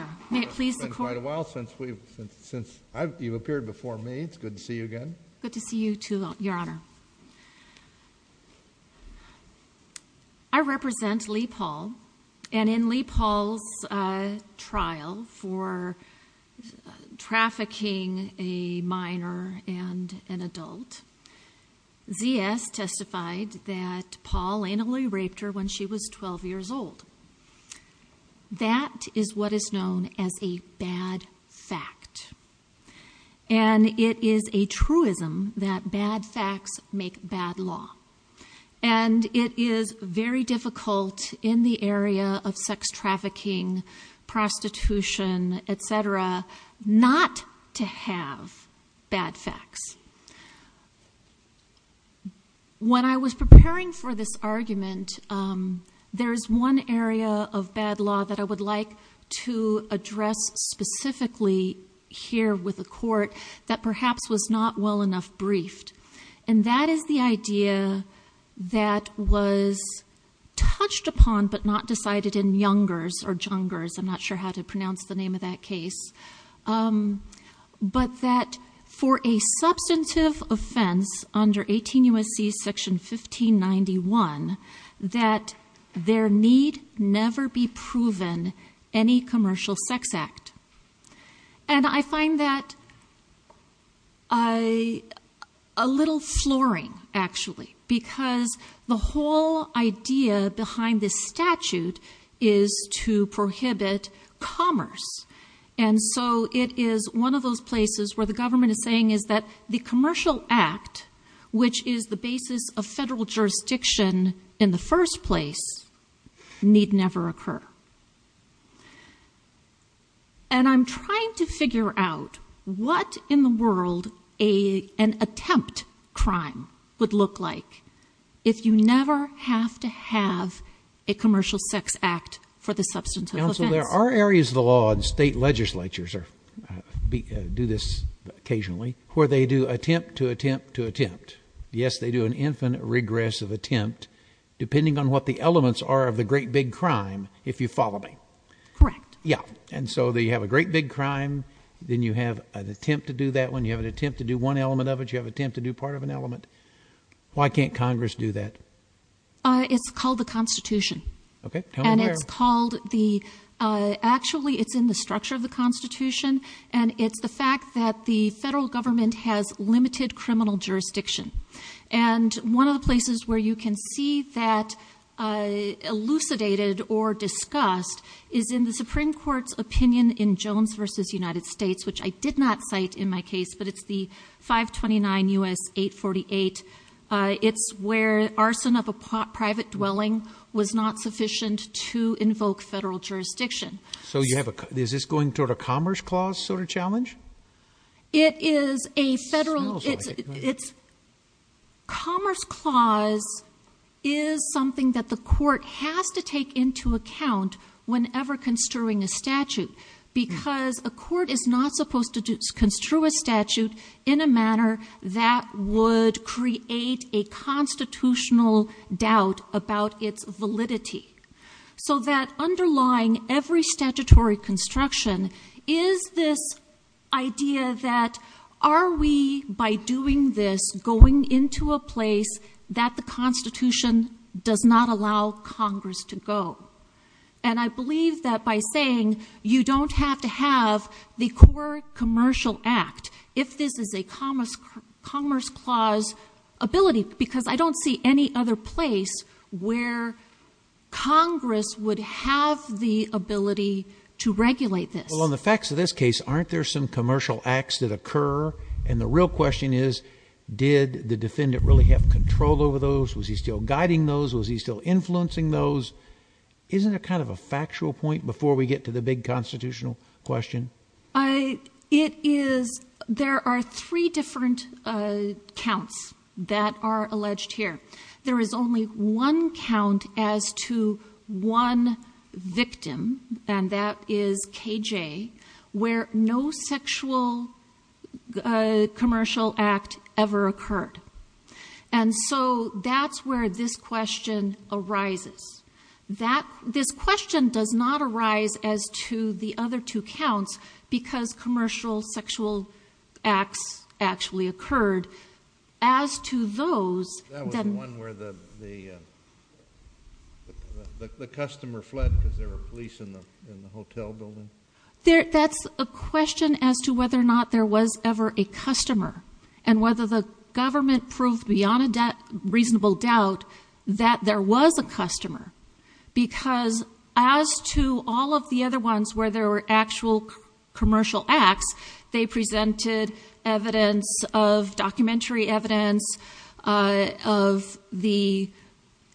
I represent Lee Paul and in Lee Paul's trial for trafficking a minor and an adult, ZS testified that Paul anally raped her when she was 12 years old. That is what is known as a bad fact. And it is a truism that bad facts make bad law. And it is very difficult in the area of sex trafficking, prostitution, etc. not to have bad facts. When I was preparing for this argument, there's one area of bad law that I would like to address specifically here with the court that perhaps was not well enough briefed. And that is the idea that was touched upon but not decided in Youngers or Jungers, I'm not sure how to put it, a substantive offense under 18 U.S.C. section 1591 that there need never be proven any commercial sex act. And I find that a little flooring, actually, because the whole idea behind this statute is to prohibit commerce. And so it is one of those places where the commercial act, which is the basis of federal jurisdiction in the first place, need never occur. And I'm trying to figure out what in the world an attempt crime would look like if you never have to have a commercial sex act for the substantive offense. There are areas of the law, and state legislatures do this occasionally, where they do attempt to attempt to attempt. Yes, they do an infinite regress of attempt depending on what the elements are of the great big crime, if you follow me. Correct. Yeah. And so they have a great big crime. Then you have an attempt to do that when you have an attempt to do one element of it, you have attempt to do part of an element. Why can't Congress do that? It's called the Constitution. And it's called the, actually it's in the structure of the Constitution. And it's the fact that the federal government has limited criminal jurisdiction. And one of the places where you can see that elucidated or discussed is in the Supreme Court's opinion in Jones v. United States, which I did not cite in my case, but it's the 529 U.S. 848. It's where arson of a private dwelling was not sufficient to invoke federal jurisdiction. So you have a, is this going toward a Commerce Clause sort of challenge? It is a federal, it's Commerce Clause is something that the court has to take into account whenever construing a statute. Because a court is not supposed to construe a statute in a manner that would create a constitutional doubt about its validity. So that underlying every statutory construction is this idea that are we, by doing this, going into a place that the Constitution does not allow Congress to go. And I believe that by saying you don't have to have the core commercial act, if this is a Commerce Clause ability, because I don't see any other place where Congress would have the ability to regulate this. Well, on the facts of this case, aren't there some commercial acts that occur? And the real question is, did the defendant really have control over those? Was he still guiding those? Was he still influencing those? Isn't it kind of a factual point before we get to the big constitutional question? It is, there are three different counts that are alleged here. There is only one count as to one victim, and that is KJ, where no sexual commercial act ever occurred. And so that's where this question arises. This question does not arise as to the other two counts, because commercial sexual acts actually occurred. As to those... That was the one where the customer fled because there were police in the hotel building? That's a question as to whether or not there was ever a customer, and whether the government proved beyond a reasonable doubt that there was a customer. Because as to all of the other ones where there were actual commercial acts, they presented evidence of documentary evidence of the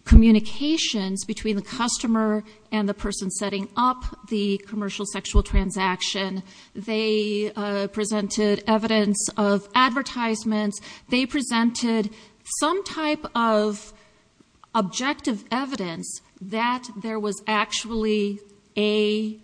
communications between the customer and the person setting up the commercial type of objective evidence that there was actually a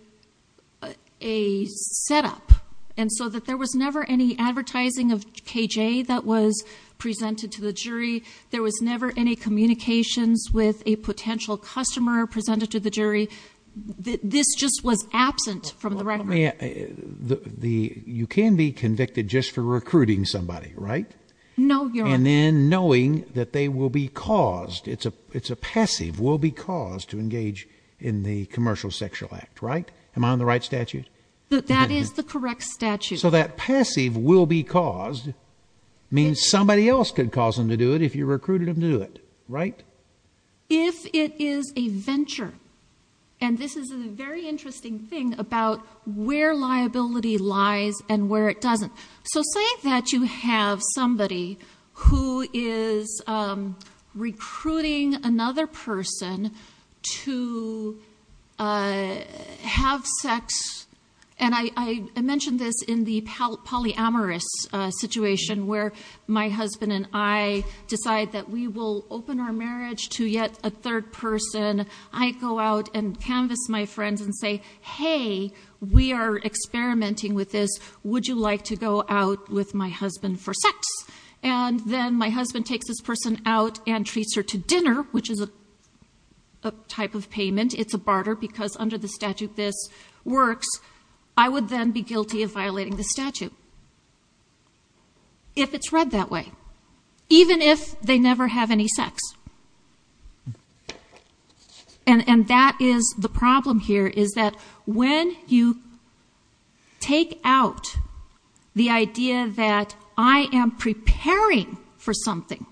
setup. And so that there was never any advertising of KJ that was presented to the jury. There was never any communications with a potential customer presented to the jury. This just was absent from the record. The... you can be convicted just for recruiting somebody, right? No, Your Honor. And then knowing that they will be caused... it's a passive will be caused to engage in the commercial sexual act, right? Am I on the right statute? That is the correct statute. So that passive will be caused means somebody else could cause them to do it if you recruited them to do it, right? If it is a venture, and this is a very interesting thing about where liability lies and where it doesn't. So say that you have somebody who is recruiting another person to have sex, and I mentioned this in the polyamorous situation where my husband and I decide that we will open our marriage to yet a third person. I go out and canvass my friends and say, hey, we are experimenting with this. Would you like to go out with my husband for sex? And then my husband takes this person out and treats her to dinner, which is a type of payment. It's a barter because under the statute this works. I would then be guilty of violating the statute if it's read that way, even if they never have any sex. And that is the problem here is that when you take out the idea that I am preparing for something,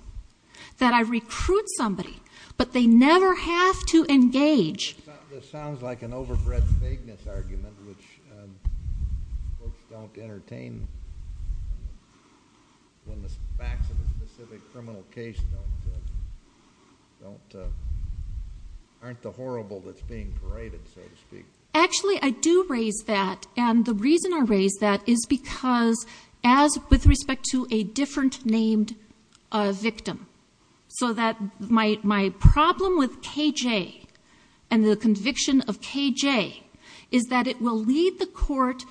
that I recruit somebody, but they never have to engage... This sounds like an overbred vagueness argument, which folks don't entertain when the facts of a specific criminal case aren't the horrible that's being paraded, so to speak. Actually, I do raise that, and the reason I raise that is because with respect to a named victim, my problem with K.J. and the conviction of K.J. is that it will lead the court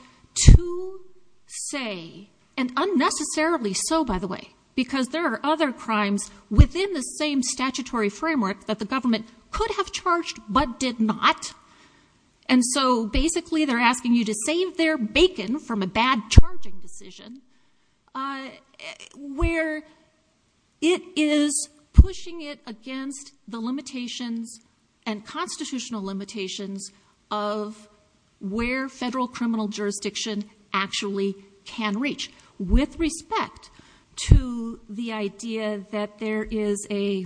to say, and unnecessarily so, by the way, because there are other crimes within the same statutory framework that the government could have charged but did not. And so basically they're asking you to save their bacon from a bad charging decision. Where it is pushing it against the limitations and constitutional limitations of where federal criminal jurisdiction actually can reach. With respect to the idea that there is a...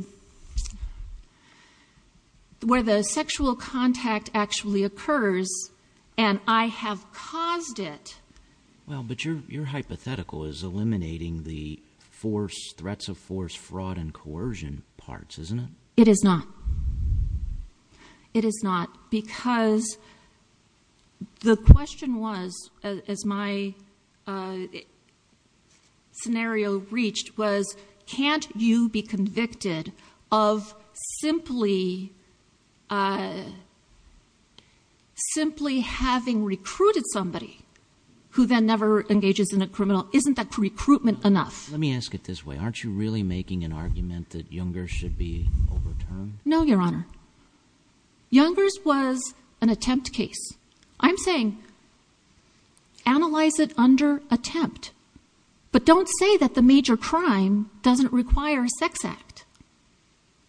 where the sexual contact actually occurs, and I have caused it. Well, but your hypothetical is eliminating the threats of force, fraud, and coercion parts, isn't it? It is not. It is not, because the question was, as my scenario reached, was can't you be convicted of simply having recruited somebody who then never engages in a criminal? Isn't that recruitment enough? Let me ask it this way. Aren't you really making an argument that Younger's should be overturned? No, Your Honor. Younger's was an attempt case. I'm saying analyze it under attempt, but don't say that the major crime doesn't require a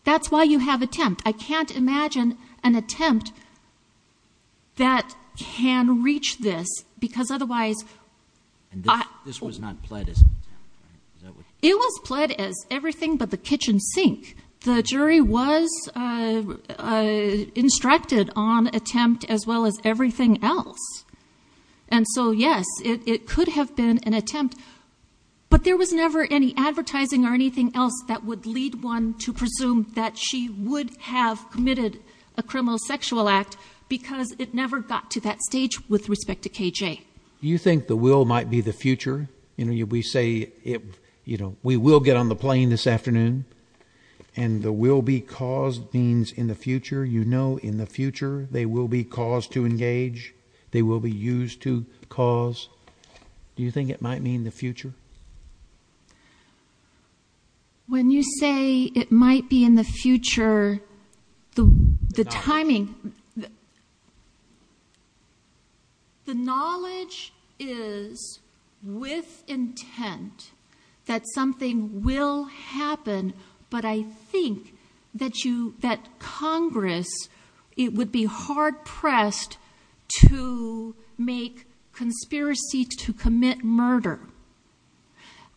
that's why you have attempt. I can't imagine an attempt that can reach this because otherwise... And this was not pled as an attempt, right? It was pled as everything but the kitchen sink. The jury was instructed on attempt as well as everything else. And so yes, it could have been an attempt, but there was never any advertising or anything else that would lead one to presume that she would have committed a criminal sexual act because it never got to that stage with respect to KJ. Do you think the will might be the future? You know, we say, you know, we will get on the plane this afternoon, and the will be caused means in the future. You know in the future they will be caused to engage. They will be used to cause. Do you think it might mean the future? When you say it might be in the future, the timing... The knowledge is with intent that something will happen, but I think that Congress, it would be hard pressed to make conspiracy to commit murder.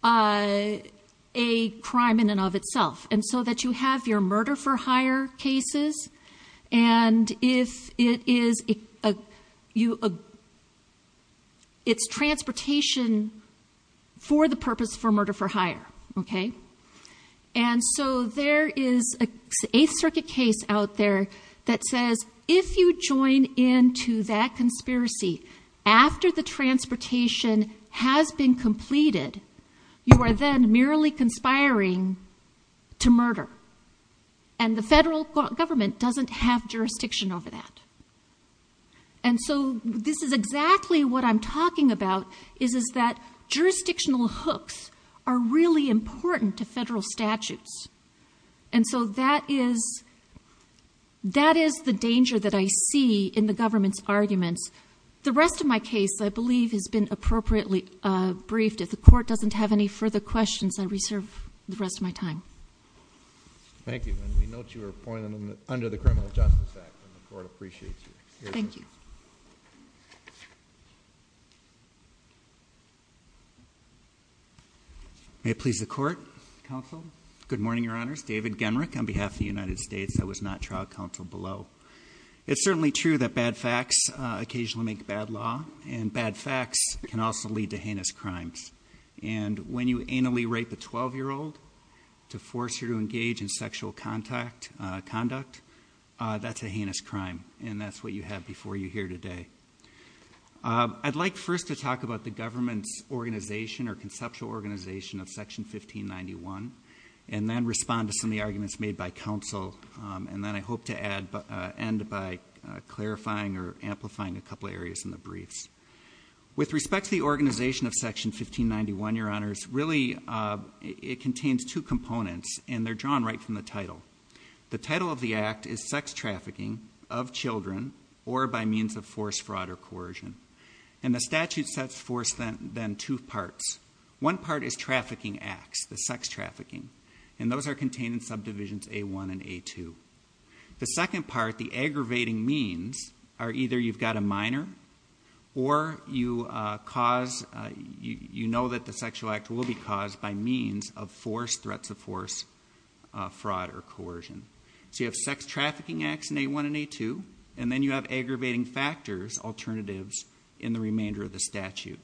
A crime in and of itself. And so that you have your murder for hire cases, and if it is... It's transportation for the purpose for murder for hire, okay? And so there is an Eighth Circuit case out there that says if you join into that conspiracy after the transportation has been completed, you are then merely conspiring to murder. And the federal government doesn't have jurisdiction over that. And so this is exactly what I'm talking about, is that jurisdictional hooks are really important to federal statutes. And so that is the danger that I see in the government's arguments. The rest of my case, I believe, has been appropriately briefed. If the court doesn't have any further questions, I reserve the rest of my time. Thank you, and we note your appointment under the Criminal Justice Act, and the court appreciates you. Thank you. May it please the court, counsel. Good morning, your honors. David Genrick on behalf of the United States. I was not trial counsel below. It's certainly true that bad facts occasionally make bad law, and bad facts can also lead to heinous crimes. And when you anally rape a 12-year-old to force her to engage in sexual conduct, that's a heinous crime. And that's what you have before you here today. I'd like first to talk about the government's organization or conceptual organization of Section 1591, and then respond to some of the arguments made by counsel. And then I hope to end by clarifying or amplifying a couple areas in the briefs. With respect to the organization of Section 1591, your honors, really it contains two components, and they're drawn right from the title. The title of the act is sex trafficking of children or by means of force, fraud, or coercion. And the statute sets forth then two parts. One part is trafficking acts, the sex trafficking. And those are contained in subdivisions A1 and A2. The second part, the aggravating means, are either you've got a minor, or you know that the sexual act will be caused by means of force, threats of force, fraud, or coercion. So you have sex trafficking acts in A1 and A2, and then you have aggravating factors, alternatives, in the remainder of the statute.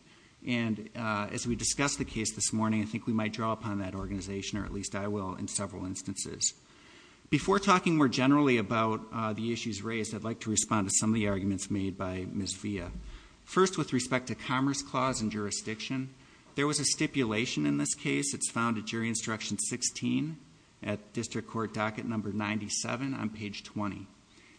And as we discussed the case this morning, I think we might draw upon that organization, or at least I will, in several instances. Before talking more generally about the issues raised, I'd like to respond to some of the arguments made by Ms. Villa. First, with respect to Commerce Clause and Jurisdiction, there was a stipulation in this case. It's found at Jury Instruction 16 at District Court Docket Number 97 on page 20.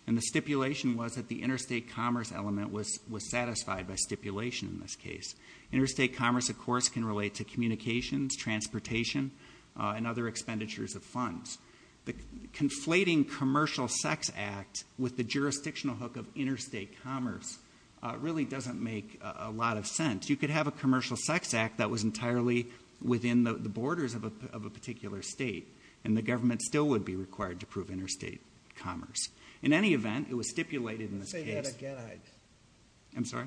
And the stipulation was that the interstate commerce element was satisfied by stipulation in this case. Interstate commerce, of course, can relate to communications, transportation, and other expenditures of funds. The conflating Commercial Sex Act with the jurisdictional hook of interstate commerce really doesn't make a lot of sense. You could have a Commercial Sex Act that was entirely within the borders of a particular state, and the government still would be required to prove interstate commerce. In any event, it was stipulated in this case... Say that again, I... I'm sorry?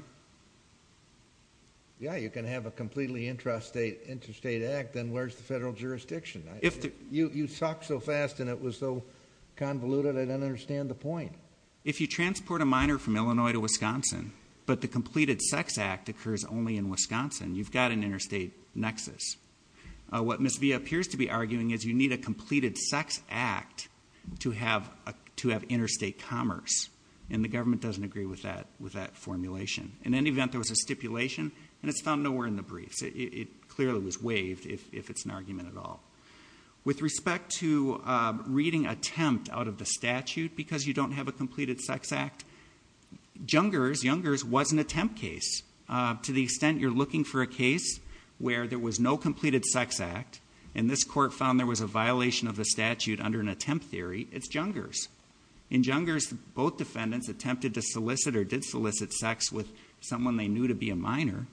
Yeah, you can have a completely intrastate interstate act, then where's the federal jurisdiction? You talked so fast, and it was so convoluted, I don't understand the point. If you transport a minor from Illinois to Wisconsin, but the Completed Sex Act occurs only in Wisconsin, you've got an interstate nexus. What Ms. Villa appears to be arguing is you need a Completed Sex Act to have interstate commerce, and the government doesn't agree with that formulation. In any event, there was a stipulation, and it's found nowhere in the briefs. It clearly was waived, if it's an argument at all. With respect to reading attempt out of the statute, because you don't have a Completed Sex Act, Jungers, Jungers was an attempt case. To the extent you're looking for a case where there was no Completed Sex Act, and this court found there was a violation of the statute under an attempt theory, it's Jungers. In Jungers, both defendants attempted to solicit, or did solicit, sex with someone they knew to be a minor,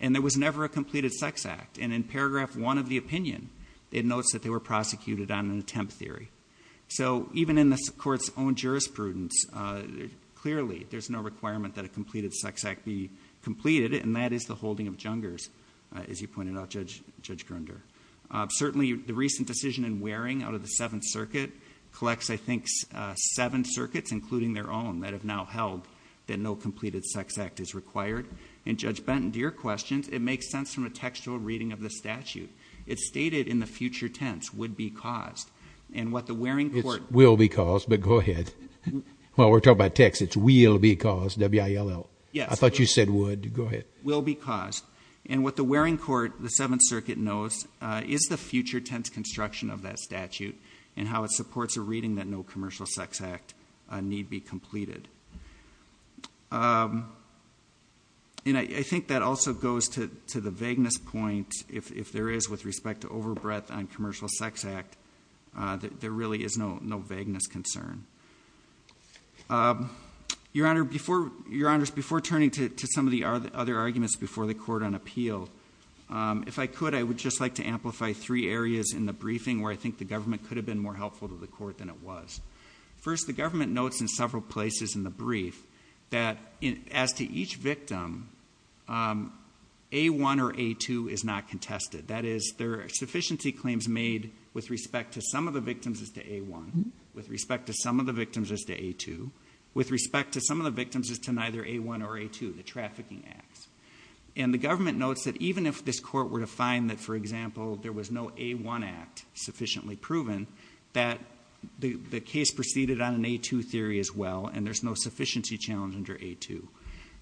and there was never a Completed Sex Act. In paragraph one of the opinion, it notes that they were prosecuted on an attempt theory. Even in the court's own jurisprudence, clearly, there's no requirement that a Completed Sex Act be completed, and that is the holding of Jungers, as you pointed out, Judge Grunder. Certainly, the recent decision in Waring out of the Seventh Circuit collects, I think, seven circuits, including their own, that have now held that no Completed Sex Act is required, and Judge Benton, to your question, it makes sense from a textual reading of the statute. It's stated in the future tense, would be caused, and what the Waring court... It's will be caused, but go ahead. While we're talking about text, it's will be caused, W-I-L-L. Yes. I thought you said would. Go ahead. Will be caused, and what the Waring court, the Seventh Circuit, knows is the future tense construction of that statute, and how it supports a reading that no Commercial Sex Act need be completed. And I think that also goes to the vagueness point, if there is, with respect to overbreadth on Commercial Sex Act, there really is no vagueness concern. Your Honor, before turning to some of the other arguments before the court on appeal, if I could, I would just like to amplify three areas in the briefing where I think the government could have been more helpful to the court than it was. First, the government notes in several places in the brief that as to each victim, A-1 or A-2 is not contested. That is, there are sufficiency claims made with respect to some of the victims as to A-1, with respect to some of the victims as to A-2, with respect to some of the victims as to neither A-1 or A-2, the trafficking acts. And the government notes that even if this court were to find that, for example, there was no A-1 act sufficiently proven, that the case proceeded on an A-2 theory as well, and there's no sufficiency challenge under A-2.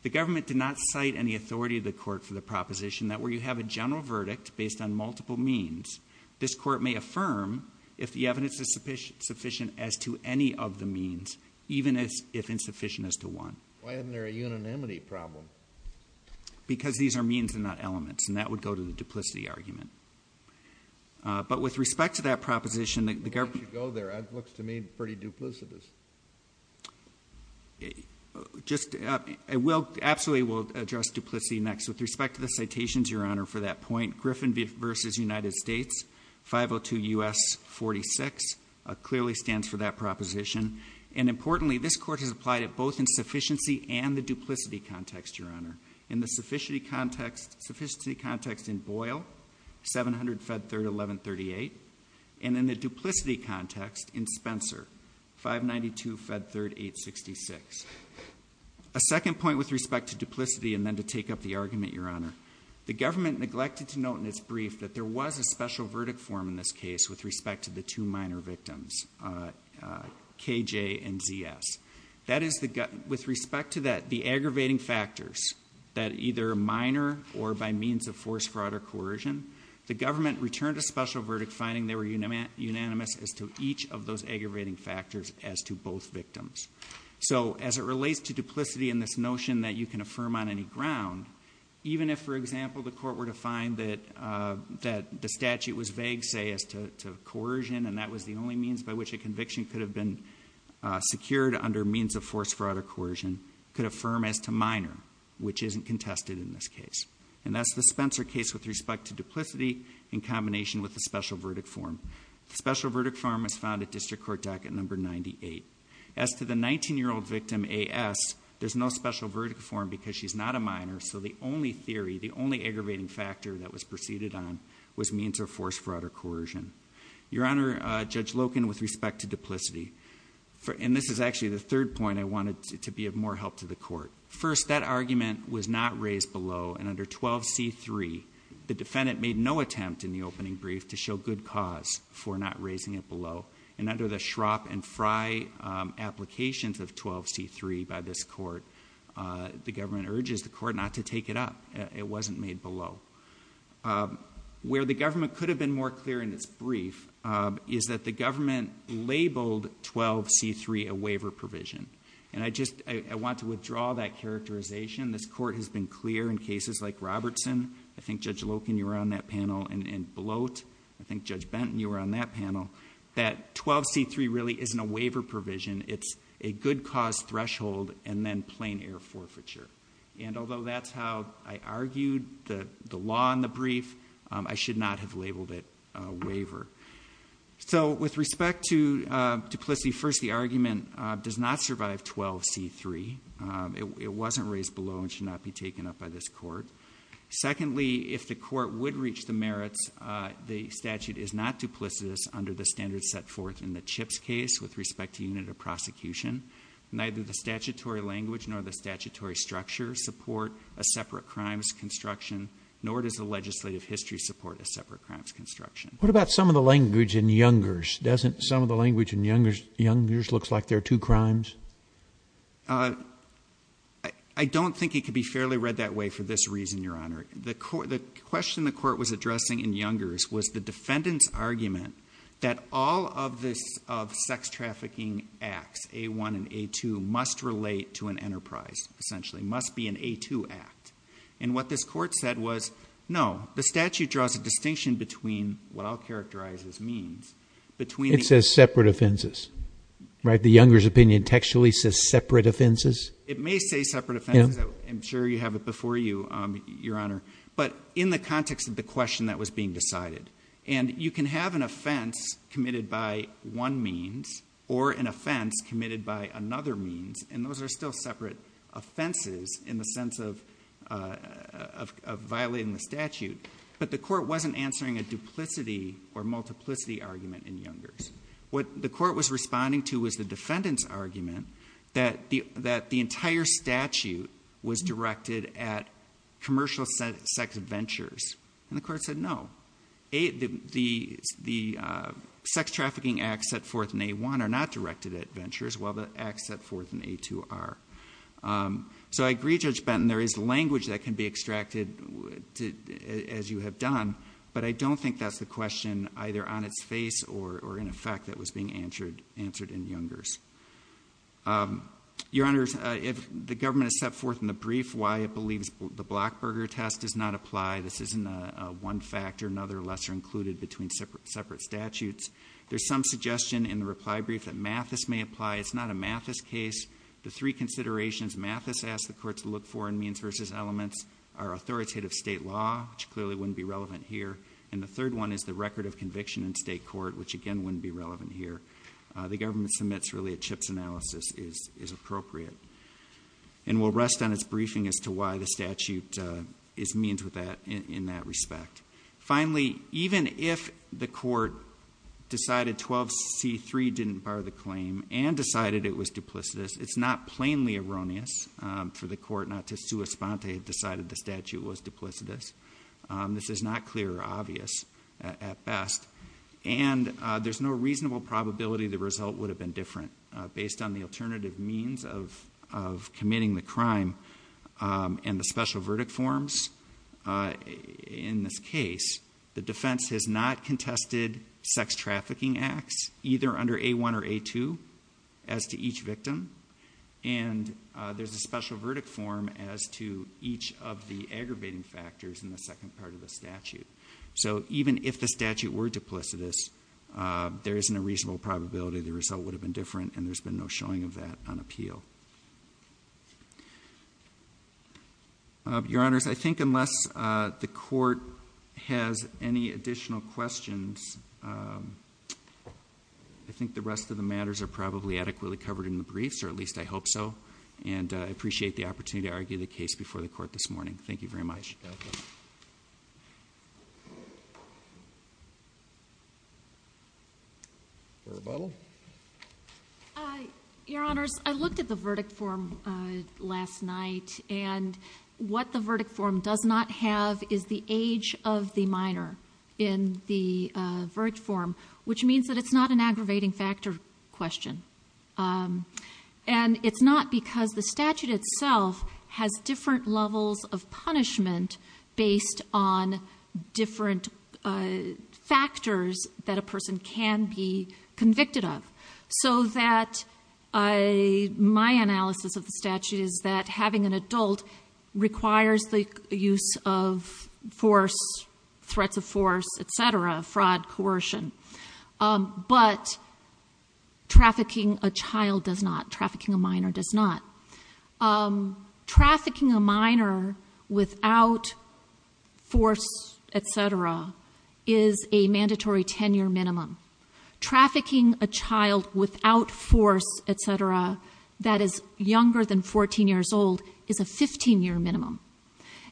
The government did not cite any authority of the court for the proposition that where you have a general verdict based on multiple means, this court may affirm if the evidence is sufficient as to any of the means, even if insufficient as to one. Why isn't there a unanimity problem? Because these are means and not elements, and that would go to the duplicity argument. But with respect to that proposition, the government- It should go there. It looks to me pretty duplicitous. Absolutely, we'll address duplicity next. With respect to the citations, Your Honor, for that point, Griffin v. United States, 502 U.S. 46, clearly stands for that proposition. And importantly, this court has applied it both in sufficiency and the duplicity context, Your Honor. In the sufficiency context in Boyle, 700 Fed Third 1138, and in the duplicity context in Spencer, 592 Fed Third 866. A second point with respect to duplicity, and then to take up the argument, Your Honor. The government neglected to note in its brief that there was a special verdict form in this case with respect to the two minor victims, KJ and ZS. That is, with respect to the aggravating factors, that either minor or by means of force, fraud, or coercion, the government returned a special verdict, finding they were unanimous as to each of those aggravating factors as to both victims. So as it relates to duplicity and this notion that you can affirm on any ground, even if, for example, the court were to find that the statute was vague, say, as to coercion, and that was the only means by which a conviction could have been secured under means of force, fraud, or coercion, could affirm as to minor, which isn't contested in this case. And that's the Spencer case with respect to duplicity in combination with the special verdict form. The special verdict form was found at District Court Docket Number 98. As to the 19-year-old victim, AS, there's no special verdict form because she's not a minor, so the only theory, the only aggravating factor that was preceded on was means of force, fraud, or coercion. Your Honor, Judge Loken, with respect to duplicity, and this is actually the third point I wanted to be of more help to the court. First, that argument was not raised below, and under 12c3, the defendant made no attempt in the opening brief to show good cause for not raising it below. And under the Schrapp and Frey applications of 12c3 by this court, the government urges the court not to take it up. It wasn't made below. Where the government could have been more clear in this brief is that the government labeled 12c3 a waiver provision. And I just, I want to withdraw that characterization. This court has been clear in cases like Robertson, I think Judge Loken, you were on that panel, and Bloat, I think Judge Benton, you were on that panel, that 12c3 really isn't a waiver provision. It's a good cause threshold and then plain air forfeiture. And although that's how I argued the law in the brief, I should not have labeled it a waiver. So with respect to duplicity, first, the argument does not survive 12c3. It wasn't raised below and should not be taken up by this court. Secondly, if the court would reach the merits, the statute is not duplicitous under the standards set forth in the Chips case with respect to unit of prosecution. Neither the statutory language nor the statutory structure support a separate crimes construction, nor does the legislative history support a separate crimes construction. What about some of the language in Youngers? Doesn't some of the language in Youngers look like there are two crimes? I don't think it could be fairly read that way for this reason, Your Honor. The question the court was addressing in Youngers was the defendant's argument that all of the sex trafficking acts, A1 and A2, must relate to an enterprise, essentially, must be an A2 act. And what this court said was, no, the statute draws a distinction between what I'll characterize as means, between- It says separate offenses, right? The Youngers opinion textually says separate offenses? It may say separate offenses. I'm sure you have it before you, Your Honor. But in the context of the question that was being decided. And you can have an offense committed by one means or an offense committed by another means, and those are still separate offenses in the sense of violating the statute. But the court wasn't answering a duplicity or multiplicity argument in Youngers. What the court was responding to was the defendant's argument that the entire statute was directed at commercial sex ventures. And the court said, no, the sex trafficking acts set forth in A1 are not directed at ventures, while the acts set forth in A2 are. So I agree, Judge Benton, there is language that can be extracted as you have done, but I don't think that's the question either on its face or in in Youngers. Your Honor, if the government has set forth in the brief why it believes the Blackburger test does not apply, this isn't one factor, another lesser included between separate statutes. There's some suggestion in the reply brief that Mathis may apply. It's not a Mathis case. The three considerations Mathis asked the court to look for in means versus elements are authoritative state law, which clearly wouldn't be relevant here. And the third one is the record of conviction in state court, which again wouldn't be relevant here. The government submits really a CHIPS analysis is appropriate. And we'll rest on its briefing as to why the statute is means in that respect. Finally, even if the court decided 12C3 didn't bar the claim and decided it was duplicitous, it's not plainly erroneous for the court not to sue Esponte had decided the statute was duplicitous. This is not clear or obvious at best. And there's no reasonable probability the result would have been different based on the alternative means of committing the crime and the special verdict forms. In this case, the defense has not contested sex trafficking acts either under A1 or A2 as to each victim. And there's a special verdict form as to each of the aggravating factors in the second part of the statute. So even if the statute were duplicitous, there isn't a reasonable probability the result would have been different and there's been no showing of that on appeal. Your honors, I think unless the court has any additional questions, I think the rest of the matters are probably adequately covered in the briefs, or at least I hope so. And I appreciate the opportunity to argue the case before the court this morning. Thank you very much. Rebuttal? Your honors, I looked at the verdict form last night and what the verdict form does not have is the age of the minor in the verdict form, which means that it's not an aggravating factor question. And it's not because the statute itself has different levels of punishment based on different factors that a person can be convicted of. So that my analysis of the statute is that having an adult requires the use of force, threats of force, et cetera, fraud, coercion. But trafficking a child does not. Trafficking a minor does not. Trafficking a minor without force, et cetera, is a mandatory tenure minimum. Trafficking a child without force, et cetera, that is younger than 14 years old is a 15-year minimum.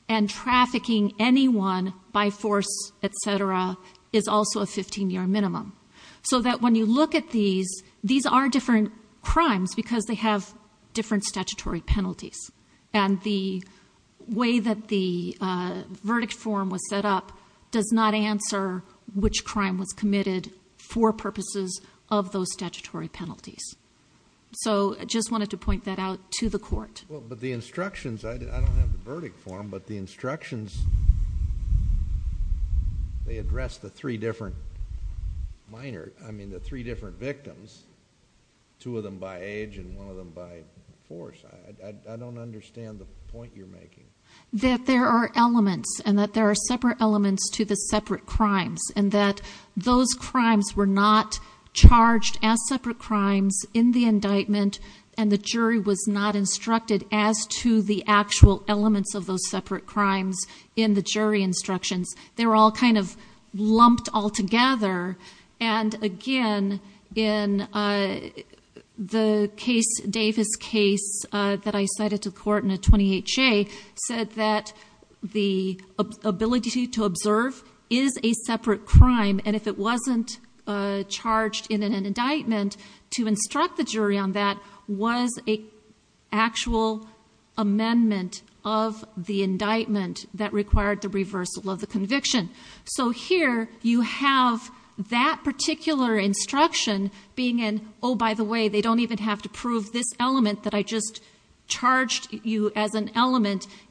And trafficking anyone by force, et cetera, is also a 15-year minimum. So that when you look at these, these are different crimes because they have different statutory penalties. And the way that the verdict form was set up does not answer which crime was committed for purposes of those statutory penalties. So I just wanted to point that out to the court. Well, but the instructions, I don't have the verdict form, but the instructions, they address the three different minor, I mean the three different victims, two of them by age and one of them by force. I don't understand the point you're making. That there are elements and that there are separate elements to the separate crimes and that those crimes were not charged as separate crimes in the indictment and the jury was not instructed as to the actual elements of those separate crimes in the jury instructions. They were all kind of lumped all together. And again, in the case, Davis' case that I cited to court in a 28-J said that the ability to observe is a separate crime. And if it wasn't charged in an indictment, to instruct the jury on that was an actual amendment of the indictment that required the reversal of the conviction. So here, you have that particular instruction being an, oh, by the way, they don't even have to prove this element that I just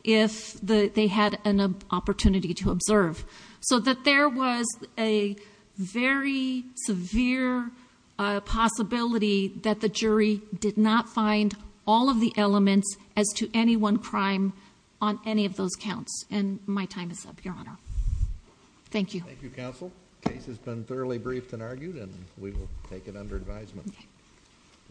if they had an opportunity to observe. So that there was a very severe possibility that the jury did not find all of the elements as to any one crime on any of those counts. And my time is up, Your Honor. Thank you. Thank you, Counsel. The case has been thoroughly briefed and argued and we will take it under advisement.